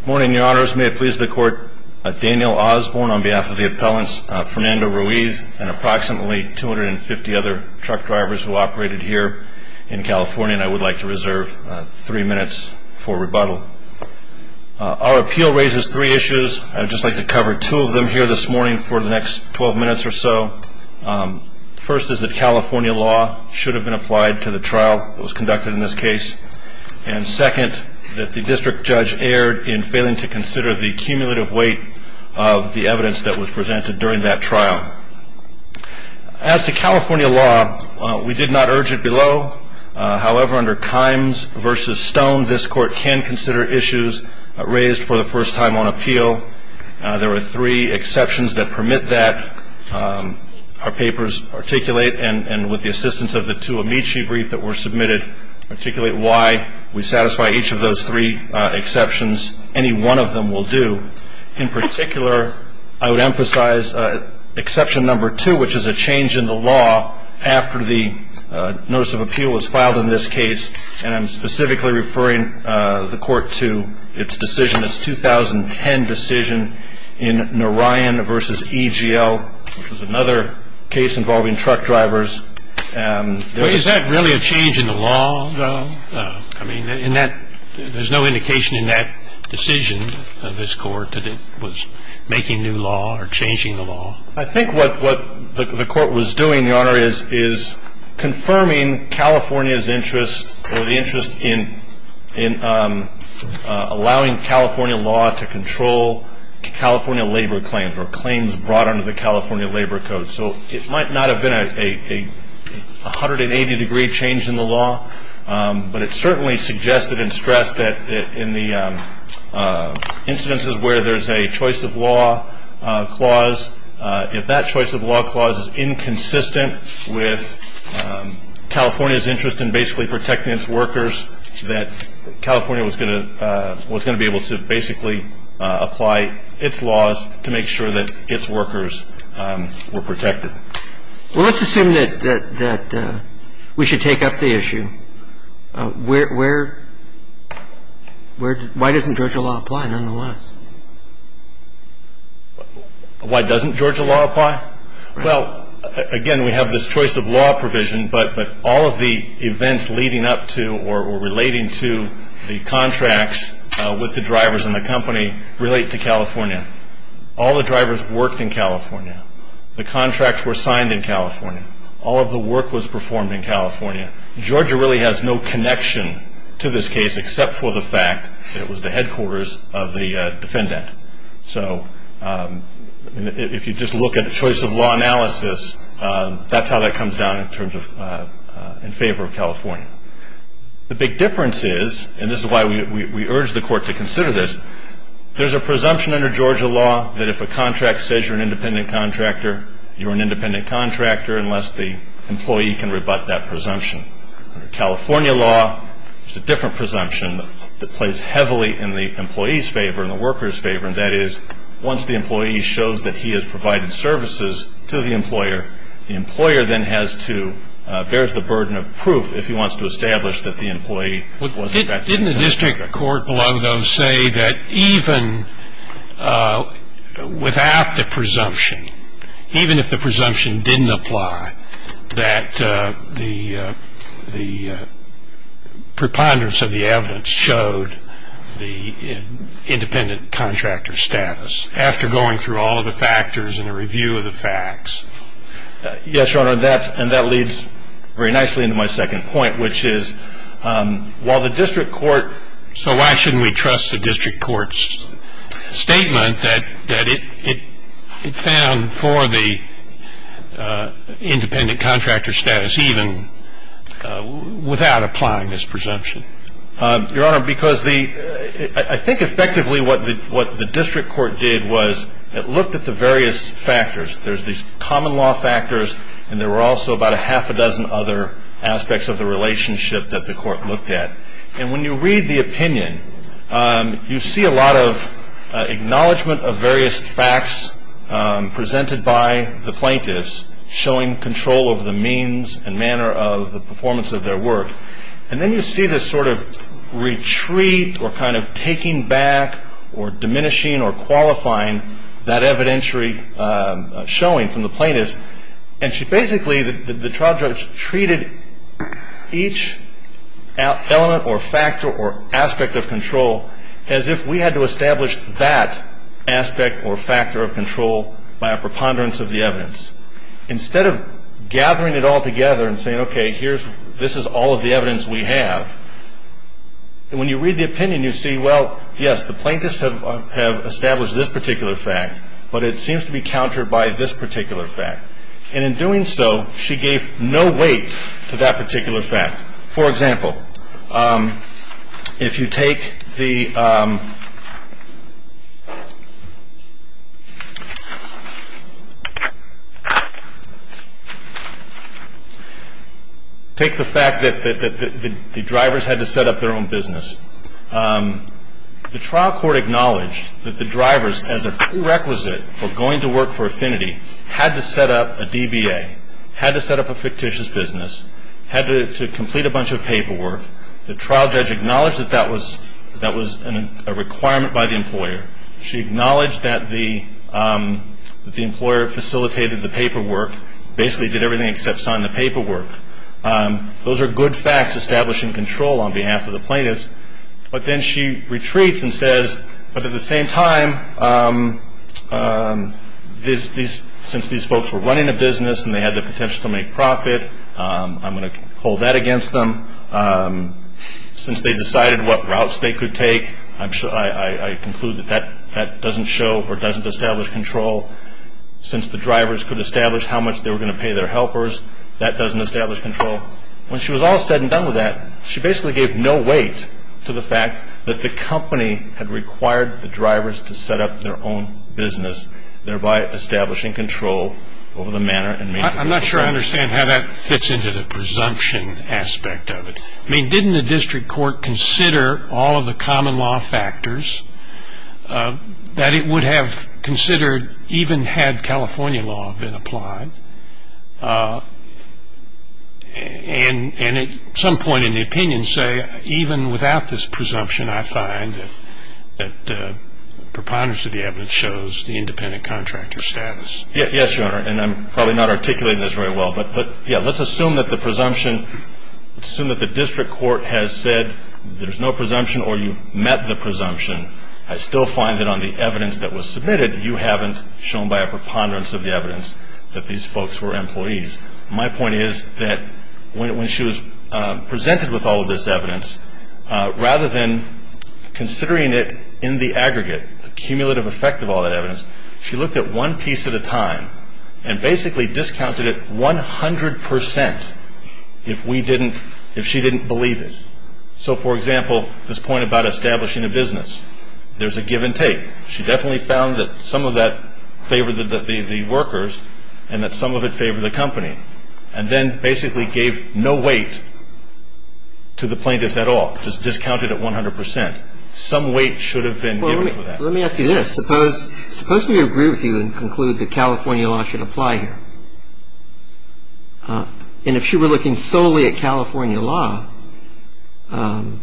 Good morning, your honors. May it please the court, Daniel Osborne on behalf of the appellants, Fernando Ruiz and approximately 250 other truck drivers who operated here in California, and I would like to reserve three minutes for rebuttal. Our appeal raises three issues. I would just like to cover two of them here this morning for the next 12 minutes or so. First is that California law should have been applied to the trial that was conducted in this case. And second, that the district judge erred in failing to consider the cumulative weight of the evidence that was presented during that trial. As to California law, we did not urge it below. However, under Kimes v. Stone, this court can consider issues raised for the first time on appeal. There were three exceptions that permit that. Our papers articulate, and with the assistance of the two Amici briefs that were submitted, articulate why we satisfy each of those three exceptions. Any one of them will do. In particular, I would emphasize exception number two, which is a change in the law after the notice of appeal was filed in this case, and I'm specifically referring the Court to its decision, its 2010 decision in Narayan v. EGL, which was another case involving truck drivers. Is that really a change in the law, though? I mean, there's no indication in that decision of this Court that it was making new law or changing the law. I think what the Court was doing, Your Honor, is confirming California's interest or the interest in allowing California law to control California labor claims or claims brought under the California Labor Code. So it might not have been a 180-degree change in the law, but it certainly suggested and stressed that in the instances where there's a choice of law clause, if that choice of law clause is inconsistent with California's interest in basically protecting its workers, that California was going to be able to basically apply its laws to make sure that its workers were protected. Well, let's assume that we should take up the issue. Where doesn't Georgia law apply, nonetheless? Why doesn't Georgia law apply? Well, again, we have this choice of law provision, but all of the events leading up to or relating to the contracts with the drivers and the company relate to California. All the drivers worked in California. The contracts were signed in California. All of the work was performed in California. Georgia really has no connection to this case except for the fact that it was the headquarters of the defendant. So if you just look at the choice of law analysis, that's how that comes down in terms of in favor of California. The big difference is, and this is why we urge the Court to consider this, there's a presumption under Georgia law that if a contract says you're an independent contractor, you're an independent contractor unless the employee can rebut that presumption. Under California law, there's a different presumption that plays heavily in the employee's favor and the worker's favor, and that is once the employee shows that he has provided services to the employer, the employer then has to, bears the burden of proof if he wants to establish that the employee was affected. Didn't the district court below, though, say that even without the presumption, even if the presumption didn't apply, that the preponderance of the evidence showed the independent contractor's status after going through all of the factors and a review of the facts? Yes, Your Honor, and that leads very nicely into my second point, which is while the district court, so why shouldn't we trust the district court's statement that it found for the independent contractor's status even without applying this presumption? Your Honor, because I think effectively what the district court did was it looked at the various factors. There's these common law factors, and there were also about a half a dozen other aspects of the relationship that the court looked at, and when you read the opinion, you see a lot of acknowledgment of various facts presented by the plaintiffs, showing control over the means and manner of the performance of their work, and then you see this sort of retreat or kind of taking back or diminishing or qualifying that evidentiary showing from the plaintiffs, and basically the trial judge treated each element or factor or aspect of control as if we had to establish that aspect or factor of control by a preponderance of the evidence. Instead of gathering it all together and saying, okay, this is all of the evidence we have, when you read the opinion, you see, well, yes, the plaintiffs have established this particular fact, but it seems to be countered by this particular fact, and in doing so, she gave no weight to that particular fact. For example, if you take the fact that the drivers had to set up their own business, the trial court acknowledged that the drivers, as a prerequisite for going to work for Affinity, had to set up a DBA, had to set up a fictitious business, had to complete a bunch of paperwork. The trial judge acknowledged that that was a requirement by the employer. She acknowledged that the employer facilitated the paperwork, basically did everything except sign the paperwork. Those are good facts establishing control on behalf of the plaintiffs, but then she retreats and says, but at the same time, since these folks were running a business and they had the potential to make profit, I'm going to hold that against them. Since they decided what routes they could take, I conclude that that doesn't show or doesn't establish control. Since the drivers could establish how much they were going to pay their helpers, that doesn't establish control. When she was all said and done with that, she basically gave no weight to the fact that the company had required the drivers to set up their own business, thereby establishing control over the manner in which they were going to work. I'm not sure I understand how that fits into the presumption aspect of it. Didn't the district court consider all of the common law factors that it would have considered even had California law been applied and at some point in the opinion say, even without this presumption, I find that preponderance of the evidence shows the independent contractor's status? Yes, Your Honor, and I'm probably not articulating this very well, but let's assume that the presumption, let's assume that the district court has said there's no presumption or you've met the presumption. I still find that on the evidence that was submitted, you haven't shown by a preponderance of the evidence that these folks were employees. My point is that when she was presented with all of this evidence, rather than considering it in the aggregate, the cumulative effect of all that evidence, she looked at one piece at a time and basically discounted it 100% if she didn't believe it. So for example, this point about establishing a business, there's a give and take. She definitely found that some of that favored the workers and that some of it favored the company and then basically gave no weight to the plaintiffs at all, just discounted it 100%. Some weight should have been given for that. Well, let me ask you this. Suppose we agree with you and conclude that California law should apply here, and if she were looking solely at California law and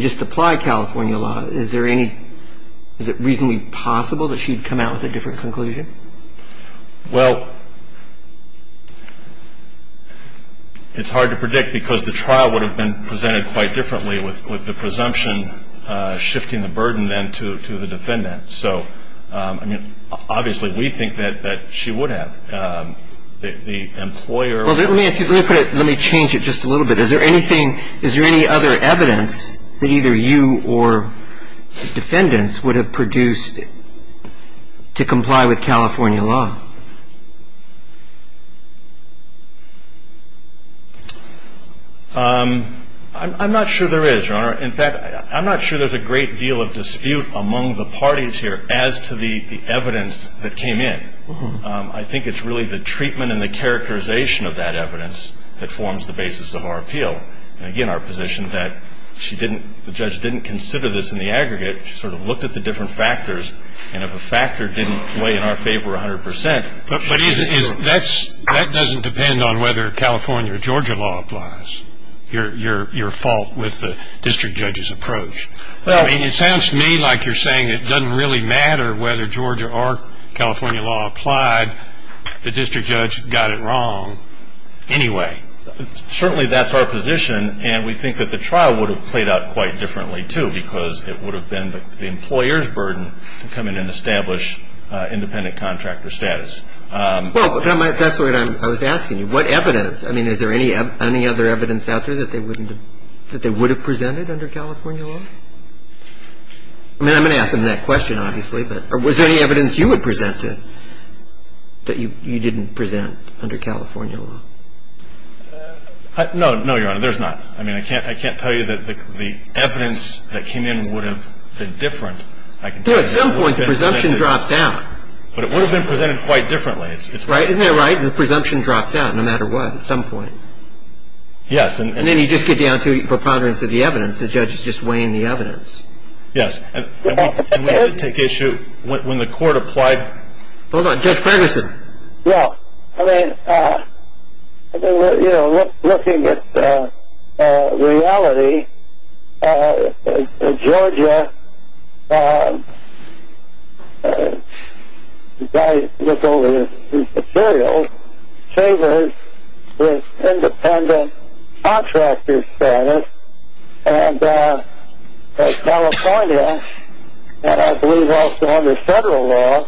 just apply California law, is there any, is it reasonably possible that she'd come out with a different conclusion? Well, it's hard to predict because the trial would have been presented quite differently with the presumption shifting the burden then to the defendant. So, I mean, obviously we think that she would have. The employer would have. Well, let me ask you, let me put it, let me change it just a little bit. Is there anything, is there any other evidence that either you or defendants would have produced to comply with California law? I'm not sure there is, Your Honor. In fact, I'm not sure there's a great deal of dispute among the parties here as to the evidence that came in. I think it's really the treatment and the characterization of that evidence that forms the basis of our appeal. And, again, our position that she didn't, the judge didn't consider this in the aggregate. She sort of looked at the different factors, and if a factor didn't weigh in our favor 100% she didn't do it. That doesn't depend on whether California or Georgia law applies. Your fault with the district judge's approach. I mean, it sounds to me like you're saying it doesn't really matter whether Georgia or California law applied. The district judge got it wrong anyway. Certainly that's our position, and we think that the trial would have played out quite differently, too, because it would have been the employer's burden to come in and establish independent contractor status. Well, that's what I was asking you. What evidence? I mean, is there any other evidence out there that they wouldn't have, that they would have presented under California law? I mean, I'm going to ask them that question, obviously. But was there any evidence you would present that you didn't present under California law? No. No, Your Honor. There's not. I mean, I can't tell you that the evidence that came in would have been different. I can tell you that it would have been connected. But it would have been presented quite differently. Isn't that right? The presumption drops out no matter what at some point. Yes. And then you just get down to preponderance of the evidence. The judge is just weighing the evidence. Yes. And we had to take issue when the court applied. Hold on. Judge Ferguson. Yes. I mean, you know, looking at reality, Georgia, as I look over these materials, favors the independent contractor status, and California, and I believe also under federal law,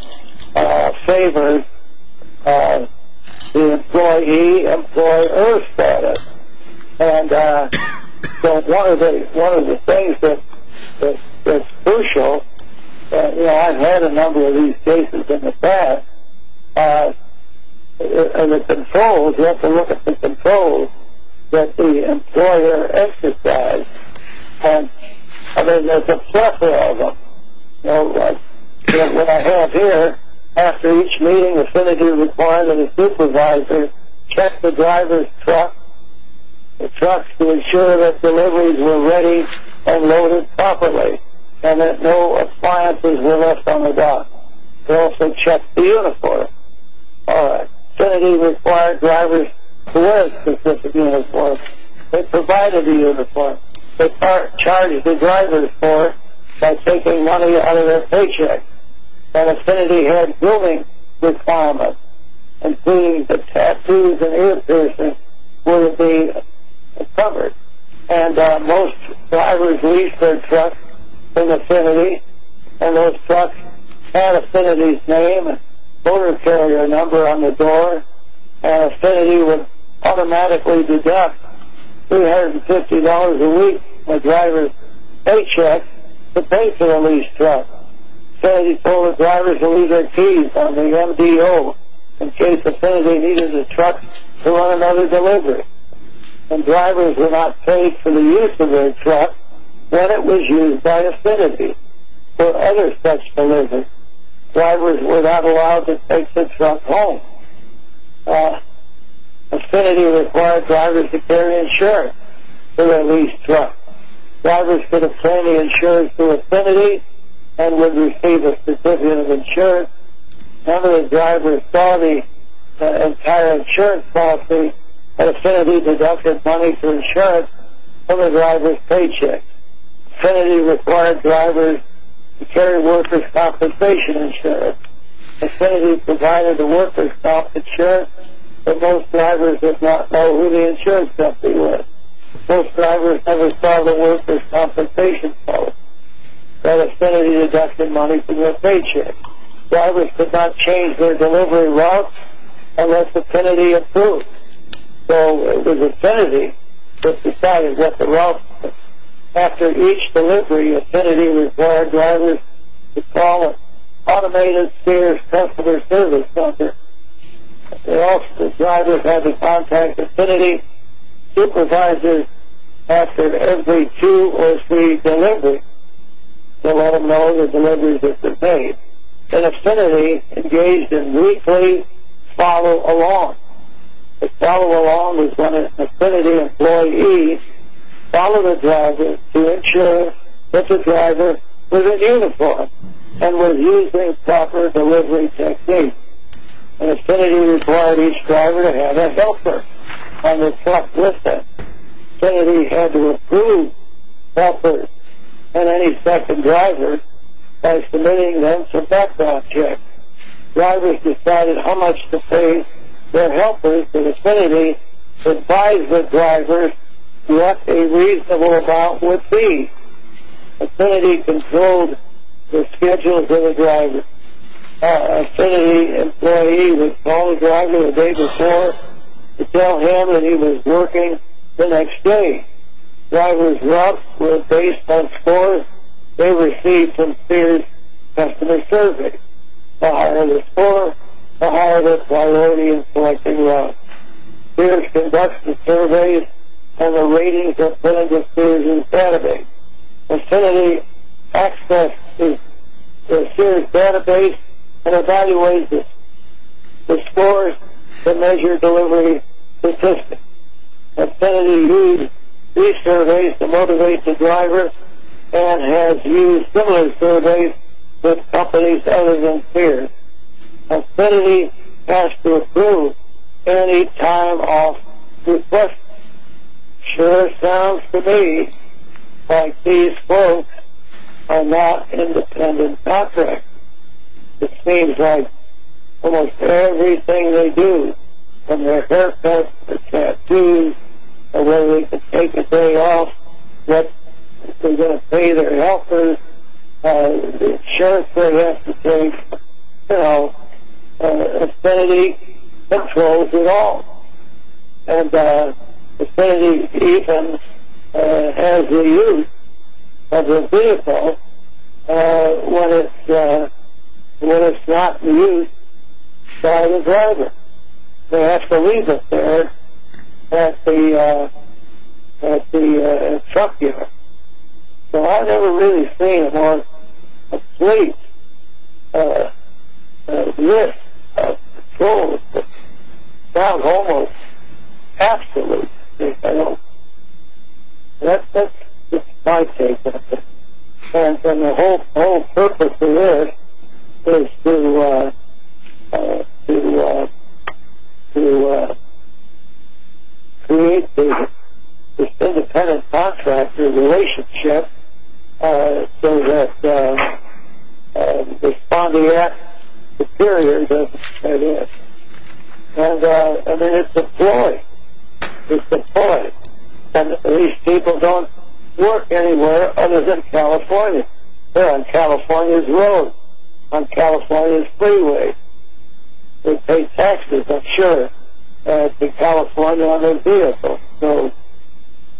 favors the employee-employer status. And so one of the things that's crucial, you know, I've had a number of these cases in the past, and the controls, you have to look at the controls that the employer emphasized. And, I mean, there's a plethora of them. What I have here, after each meeting, affinity required that a supervisor check the driver's truck, the truck to ensure that deliveries were ready and loaded properly, and that no appliances were left on the dock. They also checked the uniform. All right. Affinity required drivers to wear a specific uniform. They provided the uniform. They charged the drivers for it by taking money out of their paycheck. And affinity had ruling requirements, including that tattoos and ear piercings wouldn't be covered. And most drivers leased their trucks from affinity, and those trucks had affinity's name, motor carrier number on the door, and affinity would automatically deduct $250 a week from a driver's paycheck to pay for the leased truck. Affinity told the drivers to leave their keys on the MDO in case affinity needed the truck to run another delivery. When drivers were not paid for the use of their truck, then it was used by affinity. For other such deliveries, drivers were not allowed to take the truck home. Affinity required drivers to carry insurance for their leased truck. Drivers could apply the insurance to affinity and would receive a certificate of insurance. Some of the drivers saw the entire insurance policy, and affinity deducted money for insurance from a driver's paycheck. Affinity required drivers to carry worker's compensation insurance. Affinity provided the worker's compensation insurance, but most drivers did not know who the insurance company was. Most drivers never saw the worker's compensation policy, but affinity deducted money from their paycheck. Drivers could not change their delivery route unless affinity approved. So it was affinity that decided what the route was. After each delivery, affinity required drivers to call an automated spheres customer service center. The drivers had to contact affinity supervisors after every two or three deliveries to let them know the deliveries had been made. And affinity engaged in weekly follow along. A follow along was when an affinity employee followed a driver to ensure that the driver was in uniform and was using proper delivery techniques. And affinity required each driver to have a helper on their truck with them. Affinity had to approve helpers and any second drivers by submitting them some background checks. Drivers decided how much to pay their helpers, and affinity advised the drivers what a reasonable amount would be. Affinity controlled the schedules of the drivers. Affinity employee would call the driver the day before to tell him that he was working the next day. Drivers' routes were based on scores they received from spheres customer service. The higher the score, the higher the priority in selecting routes. Spheres conduct the surveys and the ratings are put into spheres' database. Affinity accesses the spheres' database and evaluates the scores to measure delivery statistics. Affinity used these surveys to motivate the driver and has used similar surveys with companies other than spheres. Affinity has to approve any time of request. Sure sounds to me like these folks are not independent contractors. It seems like almost everything they do, from their haircuts, their tattoos, whether they can take a day off, if they're going to pay their helpers, insurance they have to pay, you know. Affinity controls it all. And Affinity even has the use of the vehicle when it's not used by the driver. They actually leave it there at the truck dealer. So I've never really seen one complete list of controls that sound almost absolute. That's just my take of it. And the whole purpose of this is to create this independent contractor relationship so that the respondeat superior doesn't get in. And then it's deployed. It's deployed. And these people don't work anywhere other than California. They're on California's roads, on California's freeways. They pay taxes, I'm sure, to California on their vehicles. So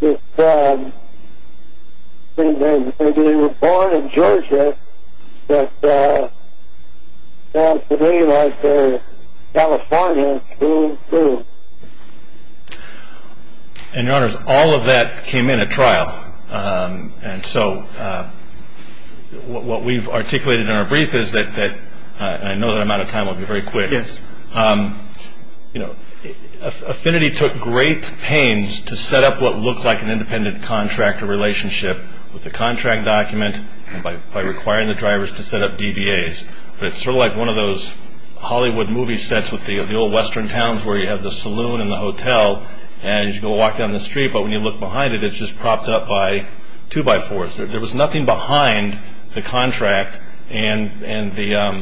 it seems as if they were born in Georgia, but sound to me like they're California, boom, boom. And, Your Honors, all of that came in at trial. And so what we've articulated in our brief is that, and I know that amount of time will be very quick, is Affinity took great pains to set up what looked like an independent contractor relationship with the contract document by requiring the drivers to set up DBAs. But it's sort of like one of those Hollywood movie sets with the old western towns where you have the saloon and the hotel, and you go walk down the street, but when you look behind it, it's just propped up by two-by-fours. There was nothing behind the contract and the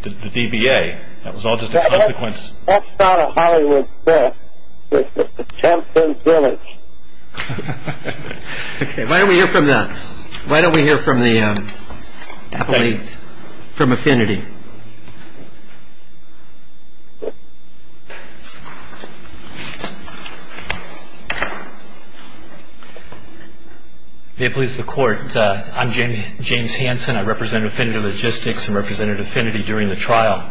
DBA. That was all just a consequence. That's not a Hollywood set. It's just a champion's village. Okay, why don't we hear from the appellees from Affinity. May it please the Court, I'm James Hanson. I represent Affinity Logistics and represented Affinity during the trial.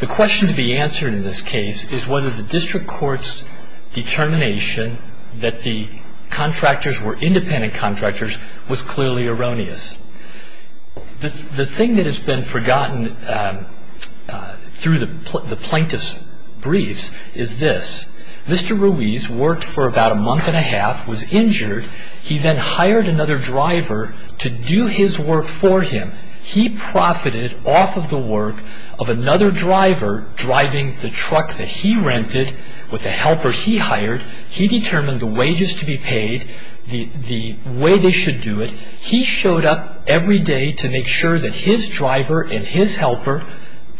The question to be answered in this case is whether the district court's determination that the contractors were independent contractors was clearly erroneous. The thing that has been forgotten through the plaintiff's briefs is this. Mr. Ruiz worked for about a month and a half, was injured. He then hired another driver to do his work for him. He profited off of the work of another driver driving the truck that he rented with a helper he hired. He determined the wages to be paid, the way they should do it. He showed up every day to make sure that his driver and his helper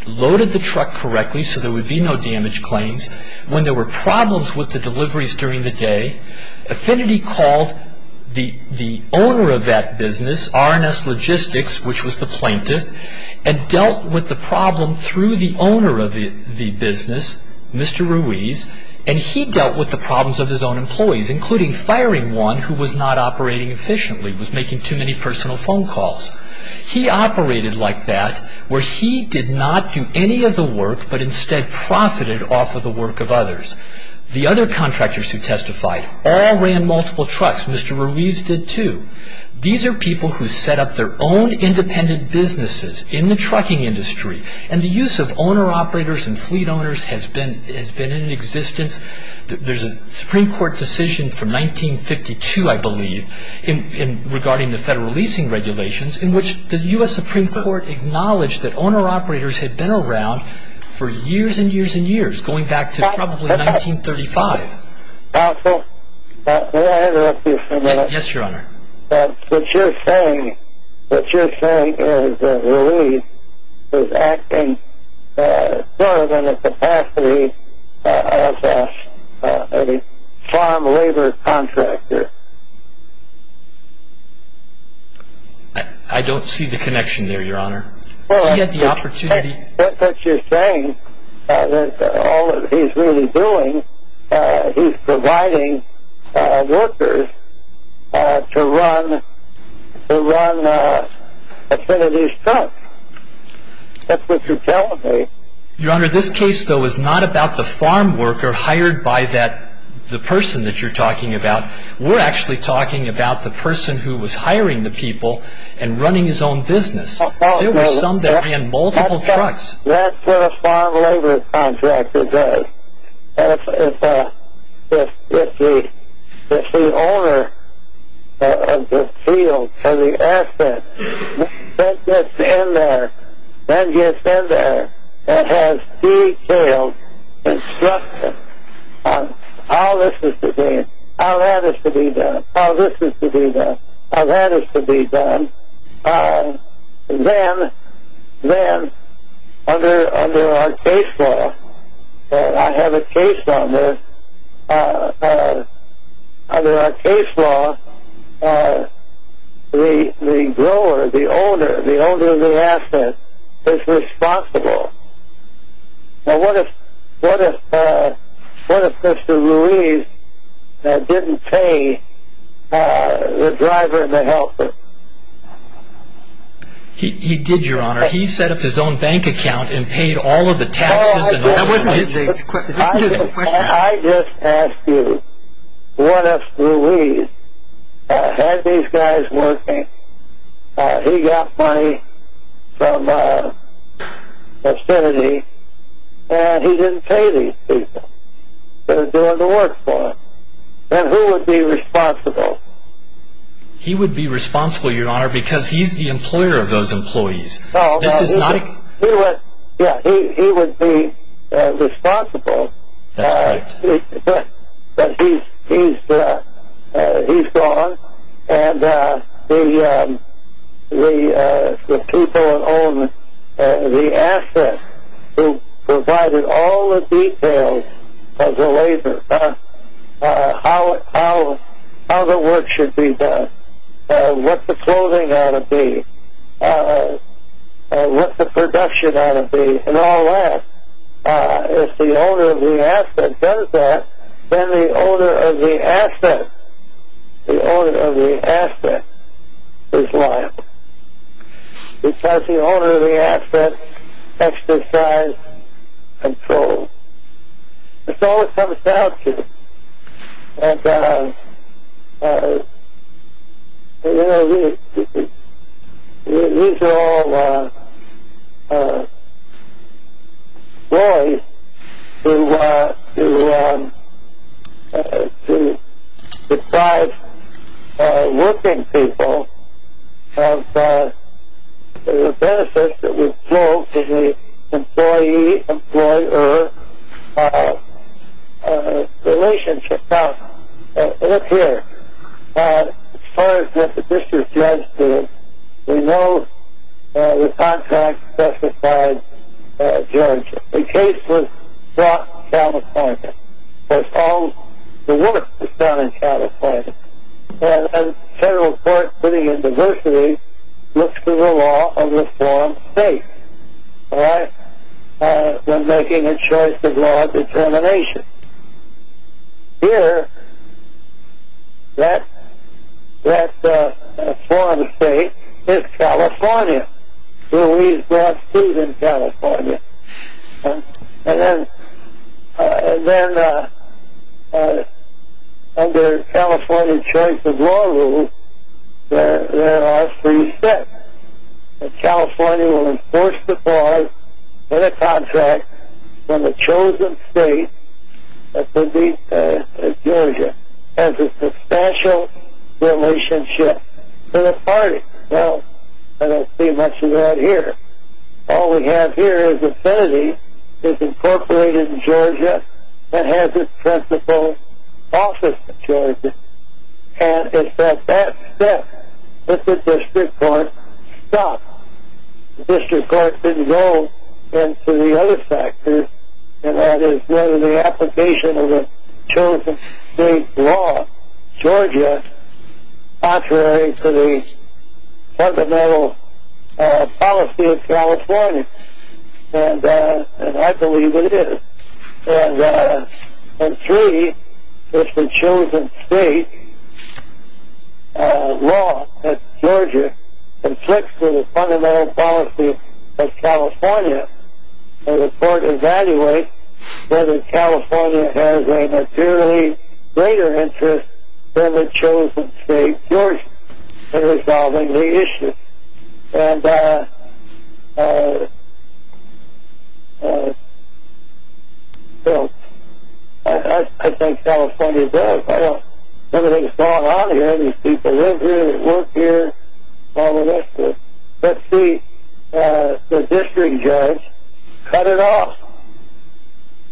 loaded the truck correctly so there would be no damage claims. When there were problems with the deliveries during the day, Affinity called the owner of that business, R&S Logistics, which was the plaintiff, and dealt with the problem through the owner of the business, Mr. Ruiz, and he dealt with the problems of his own employees, including firing one who was not operating efficiently, was making too many personal phone calls. He operated like that where he did not do any of the work but instead profited off of the work of others. The other contractors who testified all ran multiple trucks. Mr. Ruiz did too. These are people who set up their own independent businesses in the trucking industry, and the use of owner-operators and fleet owners has been in existence. There's a Supreme Court decision from 1952, I believe, regarding the federal leasing regulations in which the U.S. Supreme Court acknowledged that owner-operators had been around for years and years and years, going back to probably 1935. Counsel, may I interrupt you for a minute? Yes, Your Honor. What you're saying is that Ruiz is acting more than the capacity of a farm labor contractor. I don't see the connection there, Your Honor. He had the opportunity. What you're saying is that all he's really doing, he's providing workers to run affinities trucks. That's what you're telling me. Your Honor, this case, though, is not about the farm worker hired by the person that you're talking about. We're actually talking about the person who was hiring the people and running his own business. There were some that ran multiple trucks. That's what a farm labor contractor does. If the owner of the field or the asset gets in there and has detailed instructions on how this is to be done, how that is to be done, then under our case law, I have a case on this. Under our case law, the grower, the owner, the owner of the asset is responsible. What if Mr. Ruiz didn't pay the driver and the helper? He did, Your Honor. He set up his own bank account and paid all of the taxes. I just ask you, what if Ruiz had these guys working, he got money from affinities, and he didn't pay these people that are doing the work for him? Then who would be responsible? He would be responsible, Your Honor, because he's the employer of those employees. He would be responsible, but he's gone, and the people that own the asset who provided all the details of the labor, how the work should be done, what the clothing ought to be, what the production ought to be, and all that. If the owner of the asset does that, then the owner of the asset, the owner of the asset is liable, because the owner of the asset takes the side and controls. That's all it comes down to. These are all laws to deprive working people of the benefits that would flow to the employee-employer relationship. Now, look here. As far as what the district judge did, we know the contract specified, George, the case was brought down a point, because all the work was done down a point. A federal court putting in diversity looks for the law of the foreign state when making a choice of law of determination. Here, that foreign state is California. Louise brought Steve in California. Then, under California's choice of law rules, there are three steps. California will enforce the clause in the contract when the chosen state, Georgia, has a substantial relationship to the party. Well, I don't see much of that here. All we have here is affinity. It's incorporated in Georgia and has its principal office in Georgia, and it's that that step that the district court stopped. The district court didn't go into the other factors, and that is whether the application of the chosen state law, Georgia, is contrary to the fundamental policy of California. And I believe it is. And three, if the chosen state law, that's Georgia, the court evaluates whether California has a materially greater interest than the chosen state, Georgia, in resolving the issue. I think California does. I don't know what's going on here. These people live here. They work here, all the rest of it. Let's see, the district judge cut it off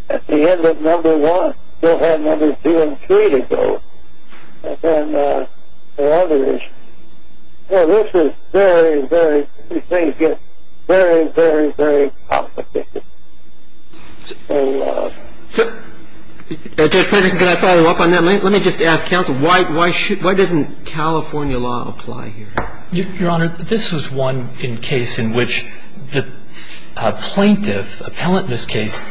at the end of number one. They'll have numbers two and three to go. And then the others. Well, this is very, very, these things get very, very, very complicated. Judge Peterson, can I follow up on that? Let me just ask counsel, why doesn't California law apply here? Your Honor, this was one case in which the plaintiff, appellant in this case,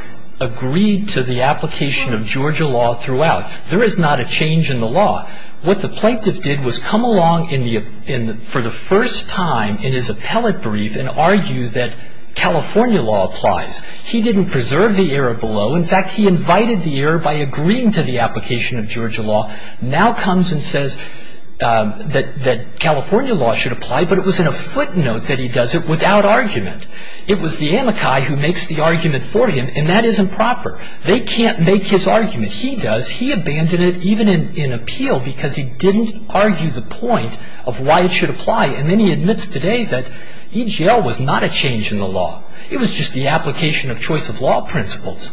agreed to the application of Georgia law throughout. There is not a change in the law. What the plaintiff did was come along for the first time in his appellate brief and argue that California law applies. He didn't preserve the error below. In fact, he invited the error by agreeing to the application of Georgia law. Now comes and says that California law should apply, but it was in a footnote that he does it without argument. It was the amici who makes the argument for him, and that isn't proper. They can't make his argument. He does. He abandoned it, even in appeal, because he didn't argue the point of why it should apply. And then he admits today that EGL was not a change in the law. It was just the application of choice of law principles.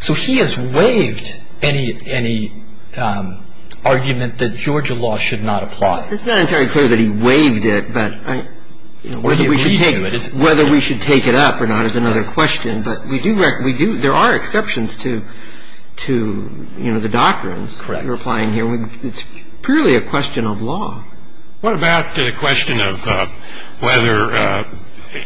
So he has waived any argument that Georgia law should not apply. It's not entirely clear that he waived it, but whether we should take it up or not is another question. But we do recognize there are exceptions to, you know, the doctrines. Correct. It's purely a question of law. What about the question of whether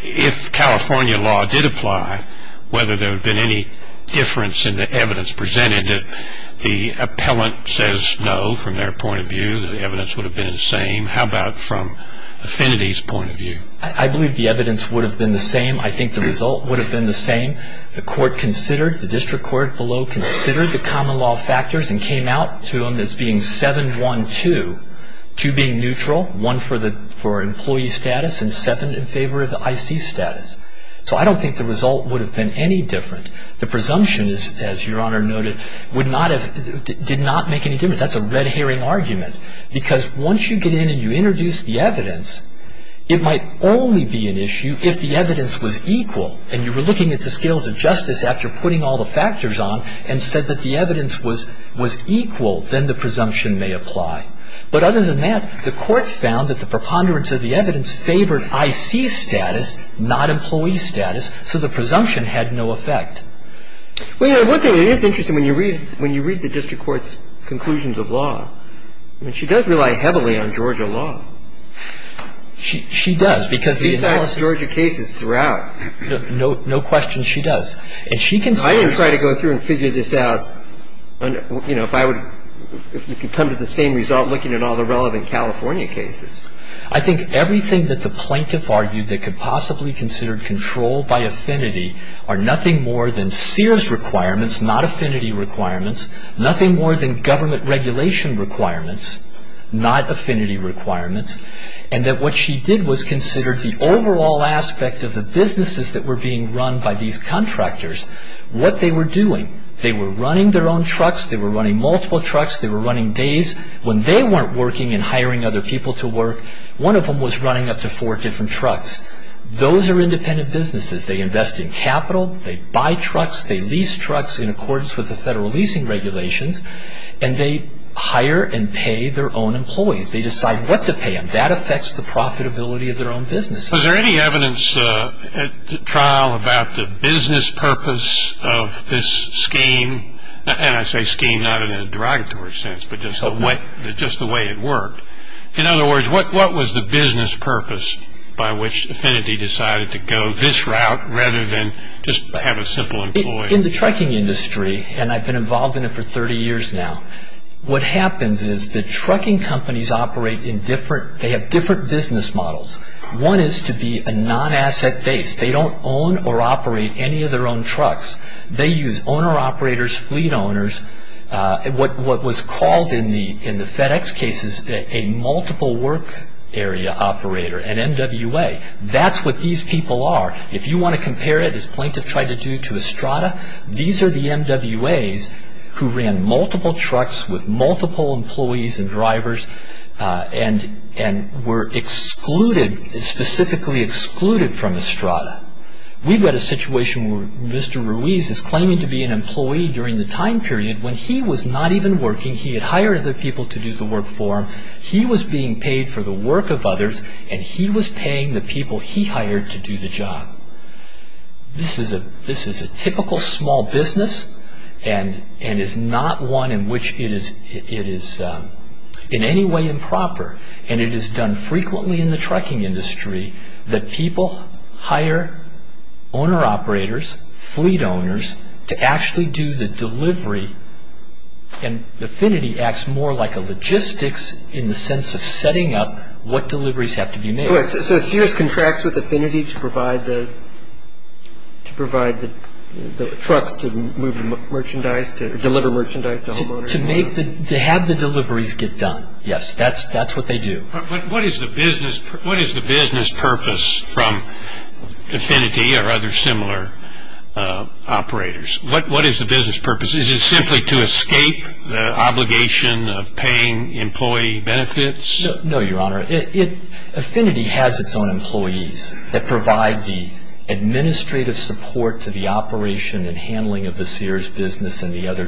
if California law did apply, whether there would have been any difference in the evidence presented? The appellant says no from their point of view, that the evidence would have been the same. How about from Affinity's point of view? I believe the evidence would have been the same. I think the result would have been the same. The court considered, the district court below considered the common law factors and came out to them as being 7-1-2, two being neutral, one for employee status and seven in favor of the IC status. So I don't think the result would have been any different. The presumption, as Your Honor noted, would not have, did not make any difference. That's a red herring argument. Because once you get in and you introduce the evidence, it might only be an issue if the evidence was equal. And you were looking at the scales of justice after putting all the factors on and said that the evidence was equal, then the presumption may apply. But other than that, the court found that the preponderance of the evidence favored IC status, not employee status, so the presumption had no effect. Well, Your Honor, one thing that is interesting, when you read the district court's conclusions of law, I mean, she does rely heavily on Georgia law. She does, because the analysis of Georgia cases throughout. No question, she does. And she considers I didn't try to go through and figure this out. If you could come to the same result looking at all the relevant California cases. I think everything that the plaintiff argued that could possibly be considered control by affinity are nothing more than Sears requirements, not affinity requirements, nothing more than government regulation requirements, not affinity requirements, and that what she did was consider the overall aspect of the businesses that were being run by these contractors, what they were doing. They were running their own trucks. They were running multiple trucks. They were running days when they weren't working and hiring other people to work. One of them was running up to four different trucks. Those are independent businesses. They invest in capital. They buy trucks. They lease trucks in accordance with the federal leasing regulations. And they hire and pay their own employees. They decide what to pay them. That affects the profitability of their own business. Was there any evidence at trial about the business purpose of this scheme? And I say scheme not in a derogatory sense, but just the way it worked. In other words, what was the business purpose by which affinity decided to go this route rather than just have a simple employee? In the trucking industry, and I've been involved in it for 30 years now, what happens is the trucking companies operate in different, they have different business models. One is to be a non-asset base. They don't own or operate any of their own trucks. They use owner-operators, fleet owners, what was called in the FedEx cases a multiple work area operator, an MWA. That's what these people are. If you want to compare it, as Plaintiff tried to do, to Estrada, these are the MWAs who ran multiple trucks with multiple employees and drivers and were specifically excluded from Estrada. We've had a situation where Mr. Ruiz is claiming to be an employee during the time period when he was not even working, he had hired other people to do the work for him, he was being paid for the work of others, and he was paying the people he hired to do the job. This is a typical small business and is not one in which it is in any way improper. It is done frequently in the trucking industry that people hire owner-operators, fleet owners, to actually do the delivery. Affinity acts more like a logistics in the sense of setting up what deliveries have to be made. So Sears contracts with Affinity to provide the trucks to deliver merchandise to homeowners? To have the deliveries get done, yes. That's what they do. What is the business purpose from Affinity or other similar operators? What is the business purpose? Is it simply to escape the obligation of paying employee benefits? No, Your Honor. Affinity has its own employees that provide the administrative support to the operation and handling of the Sears business and the other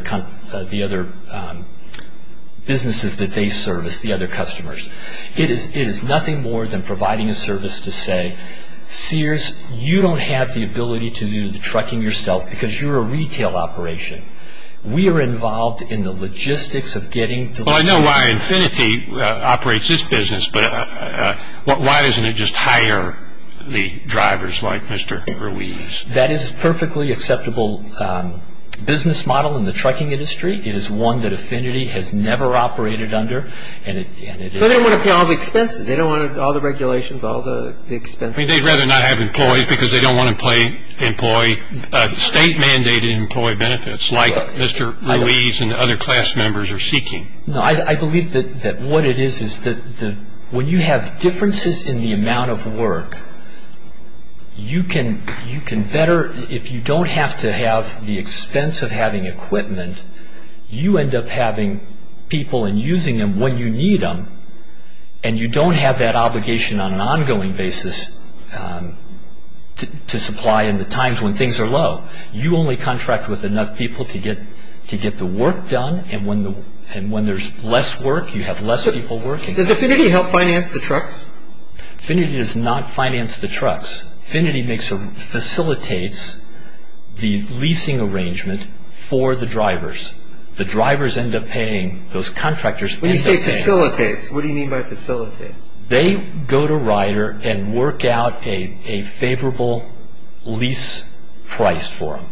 businesses that they service, the other customers. It is nothing more than providing a service to say, Sears, you don't have the ability to do the trucking yourself because you're a retail operation. We are involved in the logistics of getting deliveries. Well, I know why Affinity operates this business, but why doesn't it just hire the drivers like Mr. Ruiz? That is a perfectly acceptable business model in the trucking industry. It is one that Affinity has never operated under. They don't want to pay all the expenses. They don't want all the regulations, all the expenses. They'd rather not have employees because they don't want to pay employee, state-mandated employee benefits like Mr. Ruiz and other class members are seeking. No, I believe that what it is is that when you have differences in the amount of work, you can better, if you don't have to have the expense of having equipment, you end up having people and using them when you need them, and you don't have that obligation on an ongoing basis to supply in the times when things are low. You only contract with enough people to get the work done, and when there's less work, you have less people working. Does Affinity help finance the trucks? Affinity does not finance the trucks. Affinity facilitates the leasing arrangement for the drivers. The drivers end up paying those contractors. When you say facilitates, what do you mean by facilitate? They go to Rider and work out a favorable lease price for them.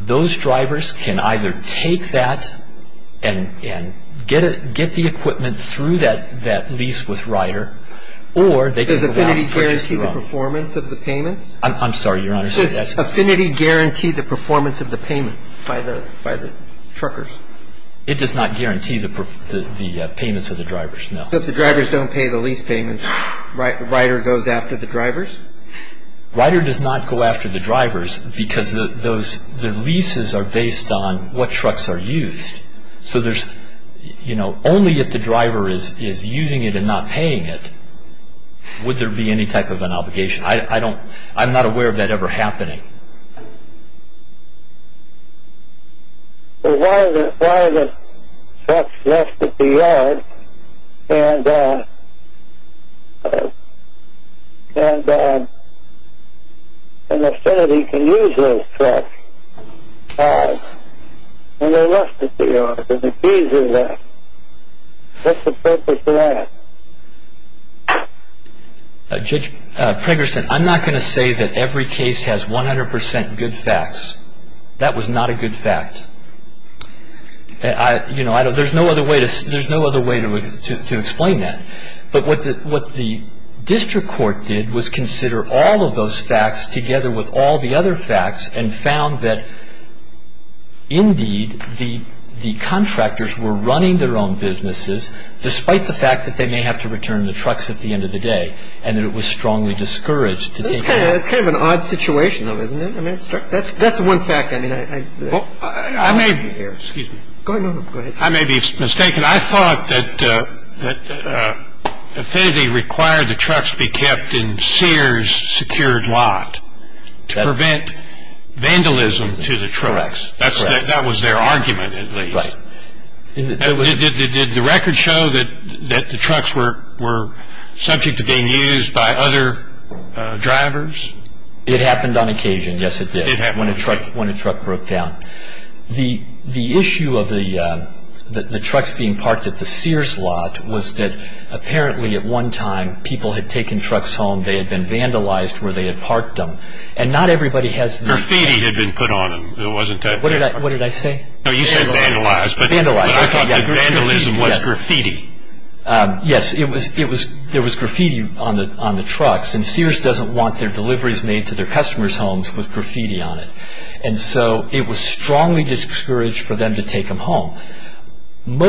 Those drivers can either take that and get the equipment through that lease with Rider or they can move out. Does Affinity guarantee the performance of the payments? I'm sorry, Your Honor. Does Affinity guarantee the performance of the payments by the truckers? It does not guarantee the payments of the drivers, no. So if the drivers don't pay the lease payments, Rider goes after the drivers? Rider does not go after the drivers because the leases are based on what trucks are used. So only if the driver is using it and not paying it would there be any type of an obligation. I'm not aware of that ever happening. Why are the trucks left at the yard and Affinity can use those trucks and they're left at the yard? The fees are there. What's the purpose of that? Judge Pregerson, I'm not going to say that every case has 100% good facts. That was not a good fact. There's no other way to explain that. But what the district court did was consider all of those facts together with all the other facts and found that indeed the contractors were running their own businesses despite the fact that they may have to return the trucks at the end of the day and that it was strongly discouraged to take them. That's kind of an odd situation, though, isn't it? I mean, that's one fact. I may be mistaken. I thought that Affinity required the trucks be kept in Sears' secured lot to prevent vandalism to the trucks. That was their argument, at least. Right. Did the record show that the trucks were subject to being used by other drivers? It happened on occasion. Yes, it did. When a truck broke down. The issue of the trucks being parked at the Sears' lot was that apparently at one time people had taken trucks home. They had been vandalized where they had parked them. And not everybody has the... Graffiti had been put on them. What did I say? You said vandalized, but I thought that vandalism was graffiti. Yes, there was graffiti on the trucks, and Sears doesn't want their deliveries made to their customers' homes with graffiti on it. And so it was strongly discouraged for them to take them home. Many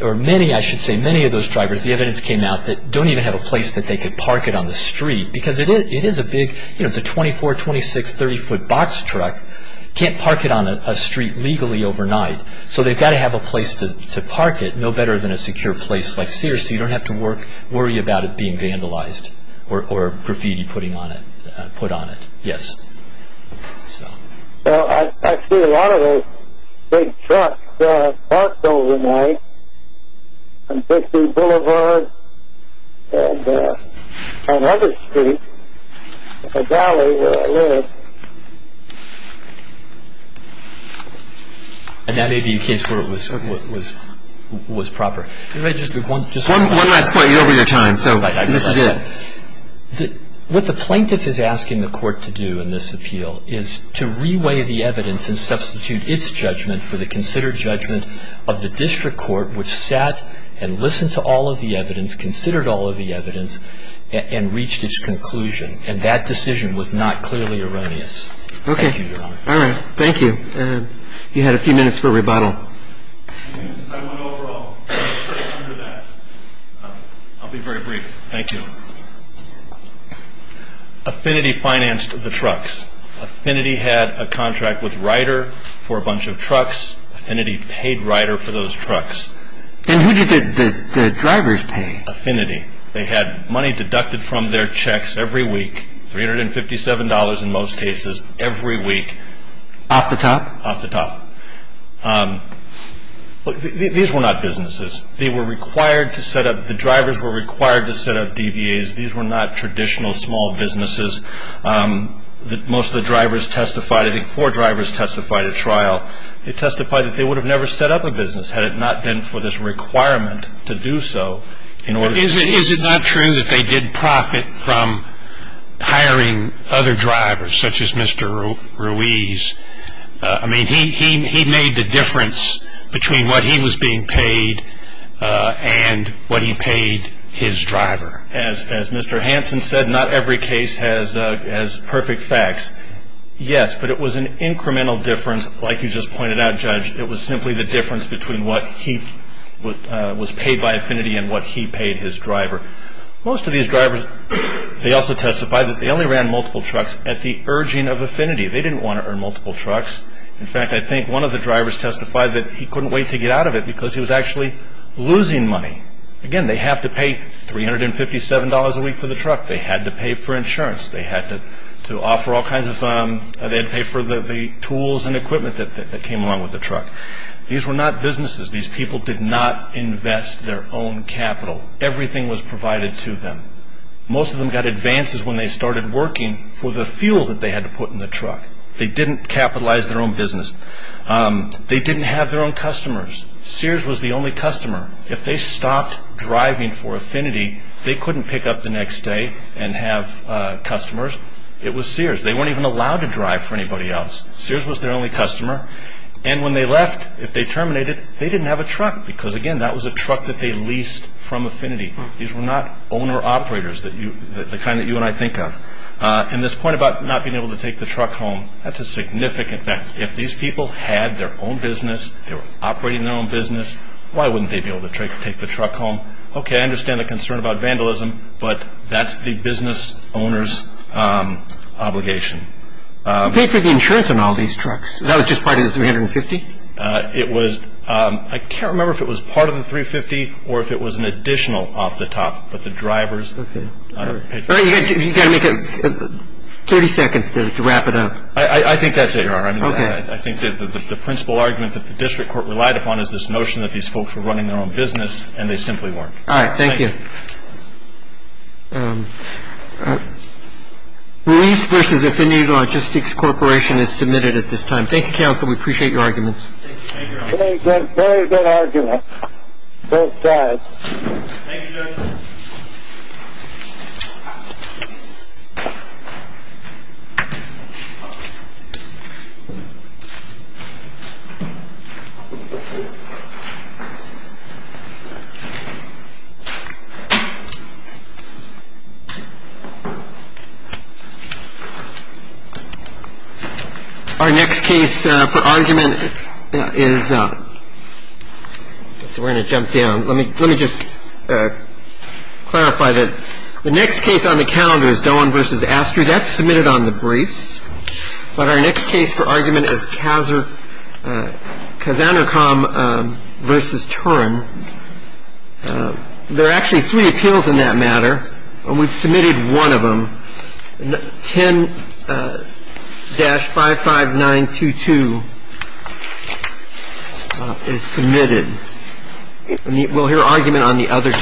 of those drivers, the evidence came out, don't even have a place that they can park it on the street because it is a big, you know, it's a 24, 26, 30-foot box truck. You can't park it on a street legally overnight. So they've got to have a place to park it, no better than a secure place like Sears so you don't have to worry about it being vandalized or graffiti put on it. Yes. Well, I see a lot of those big trucks parked overnight on 50th Boulevard and on other streets in the valley where I live. And that may be a case where it was proper. One last point, you're over your time, so this is it. What the plaintiff is asking the court to do in this appeal is to reweigh the evidence and substitute its judgment for the considered judgment of the district court, which sat and listened to all of the evidence, considered all of the evidence, and reached its conclusion. And that decision was not clearly erroneous. Okay. Thank you, Your Honor. All right. Thank you. You had a few minutes for rebuttal. I want to go straight under that. I'll be very brief. Thank you. Affinity financed the trucks. Affinity had a contract with Ryder for a bunch of trucks. Affinity paid Ryder for those trucks. Then who did the drivers pay? Affinity. They had money deducted from their checks every week, $357 in most cases every week. Off the top? Off the top. These were not businesses. They were required to set up, the drivers were required to set up DBAs. These were not traditional small businesses. Most of the drivers testified, I think four drivers testified at trial. They testified that they would have never set up a business had it not been for this requirement to do so. Is it not true that they did profit from hiring other drivers, such as Mr. Ruiz? I mean, he made the difference between what he was being paid and what he paid his driver. As Mr. Hansen said, not every case has perfect facts. Yes, but it was an incremental difference. Like you just pointed out, Judge, it was simply the difference between what he was paid by Affinity and what he paid his driver. Most of these drivers, they also testified that they only ran multiple trucks at the urging of Affinity. They didn't want to earn multiple trucks. In fact, I think one of the drivers testified that he couldn't wait to get out of it because he was actually losing money. Again, they have to pay $357 a week for the truck. They had to pay for insurance. They had to pay for the tools and equipment that came along with the truck. These were not businesses. These people did not invest their own capital. Everything was provided to them. Most of them got advances when they started working for the fuel that they had to put in the truck. They didn't capitalize their own business. They didn't have their own customers. Sears was the only customer. If they stopped driving for Affinity, they couldn't pick up the next day and have customers. It was Sears. They weren't even allowed to drive for anybody else. Sears was their only customer. And when they left, if they terminated, they didn't have a truck because, again, that was a truck that they leased from Affinity. These were not owner-operators, the kind that you and I think of. And this point about not being able to take the truck home, that's a significant fact. If these people had their own business, they were operating their own business, why wouldn't they be able to take the truck home? Okay, I understand the concern about vandalism, but that's the business owner's obligation. You paid for the insurance on all these trucks. That was just part of the $350? I can't remember if it was part of the $350 or if it was an additional off the top, but the drivers paid for it. You've got to make it 30 seconds to wrap it up. I think that's it, Your Honor. Okay. I think that the principal argument that the district court relied upon is this notion that these folks were running their own business, and they simply weren't. All right, thank you. Okay. Release versus Affinity Logistics Corporation is submitted at this time. Thank you, counsel. We appreciate your arguments. Thank you. Thank you, Your Honor. Very good argument. Both sides. Thank you, Judge. Our next case for argument is we're going to jump down. Let me just clarify that the next case on the calendar is Doan v. Astry. That's submitted on the briefs. But our next case for argument is Kazanacom v. Turin. There are actually three appeals in that matter, and we've submitted one of them. 10-55922 is submitted. We'll hear argument on the other two.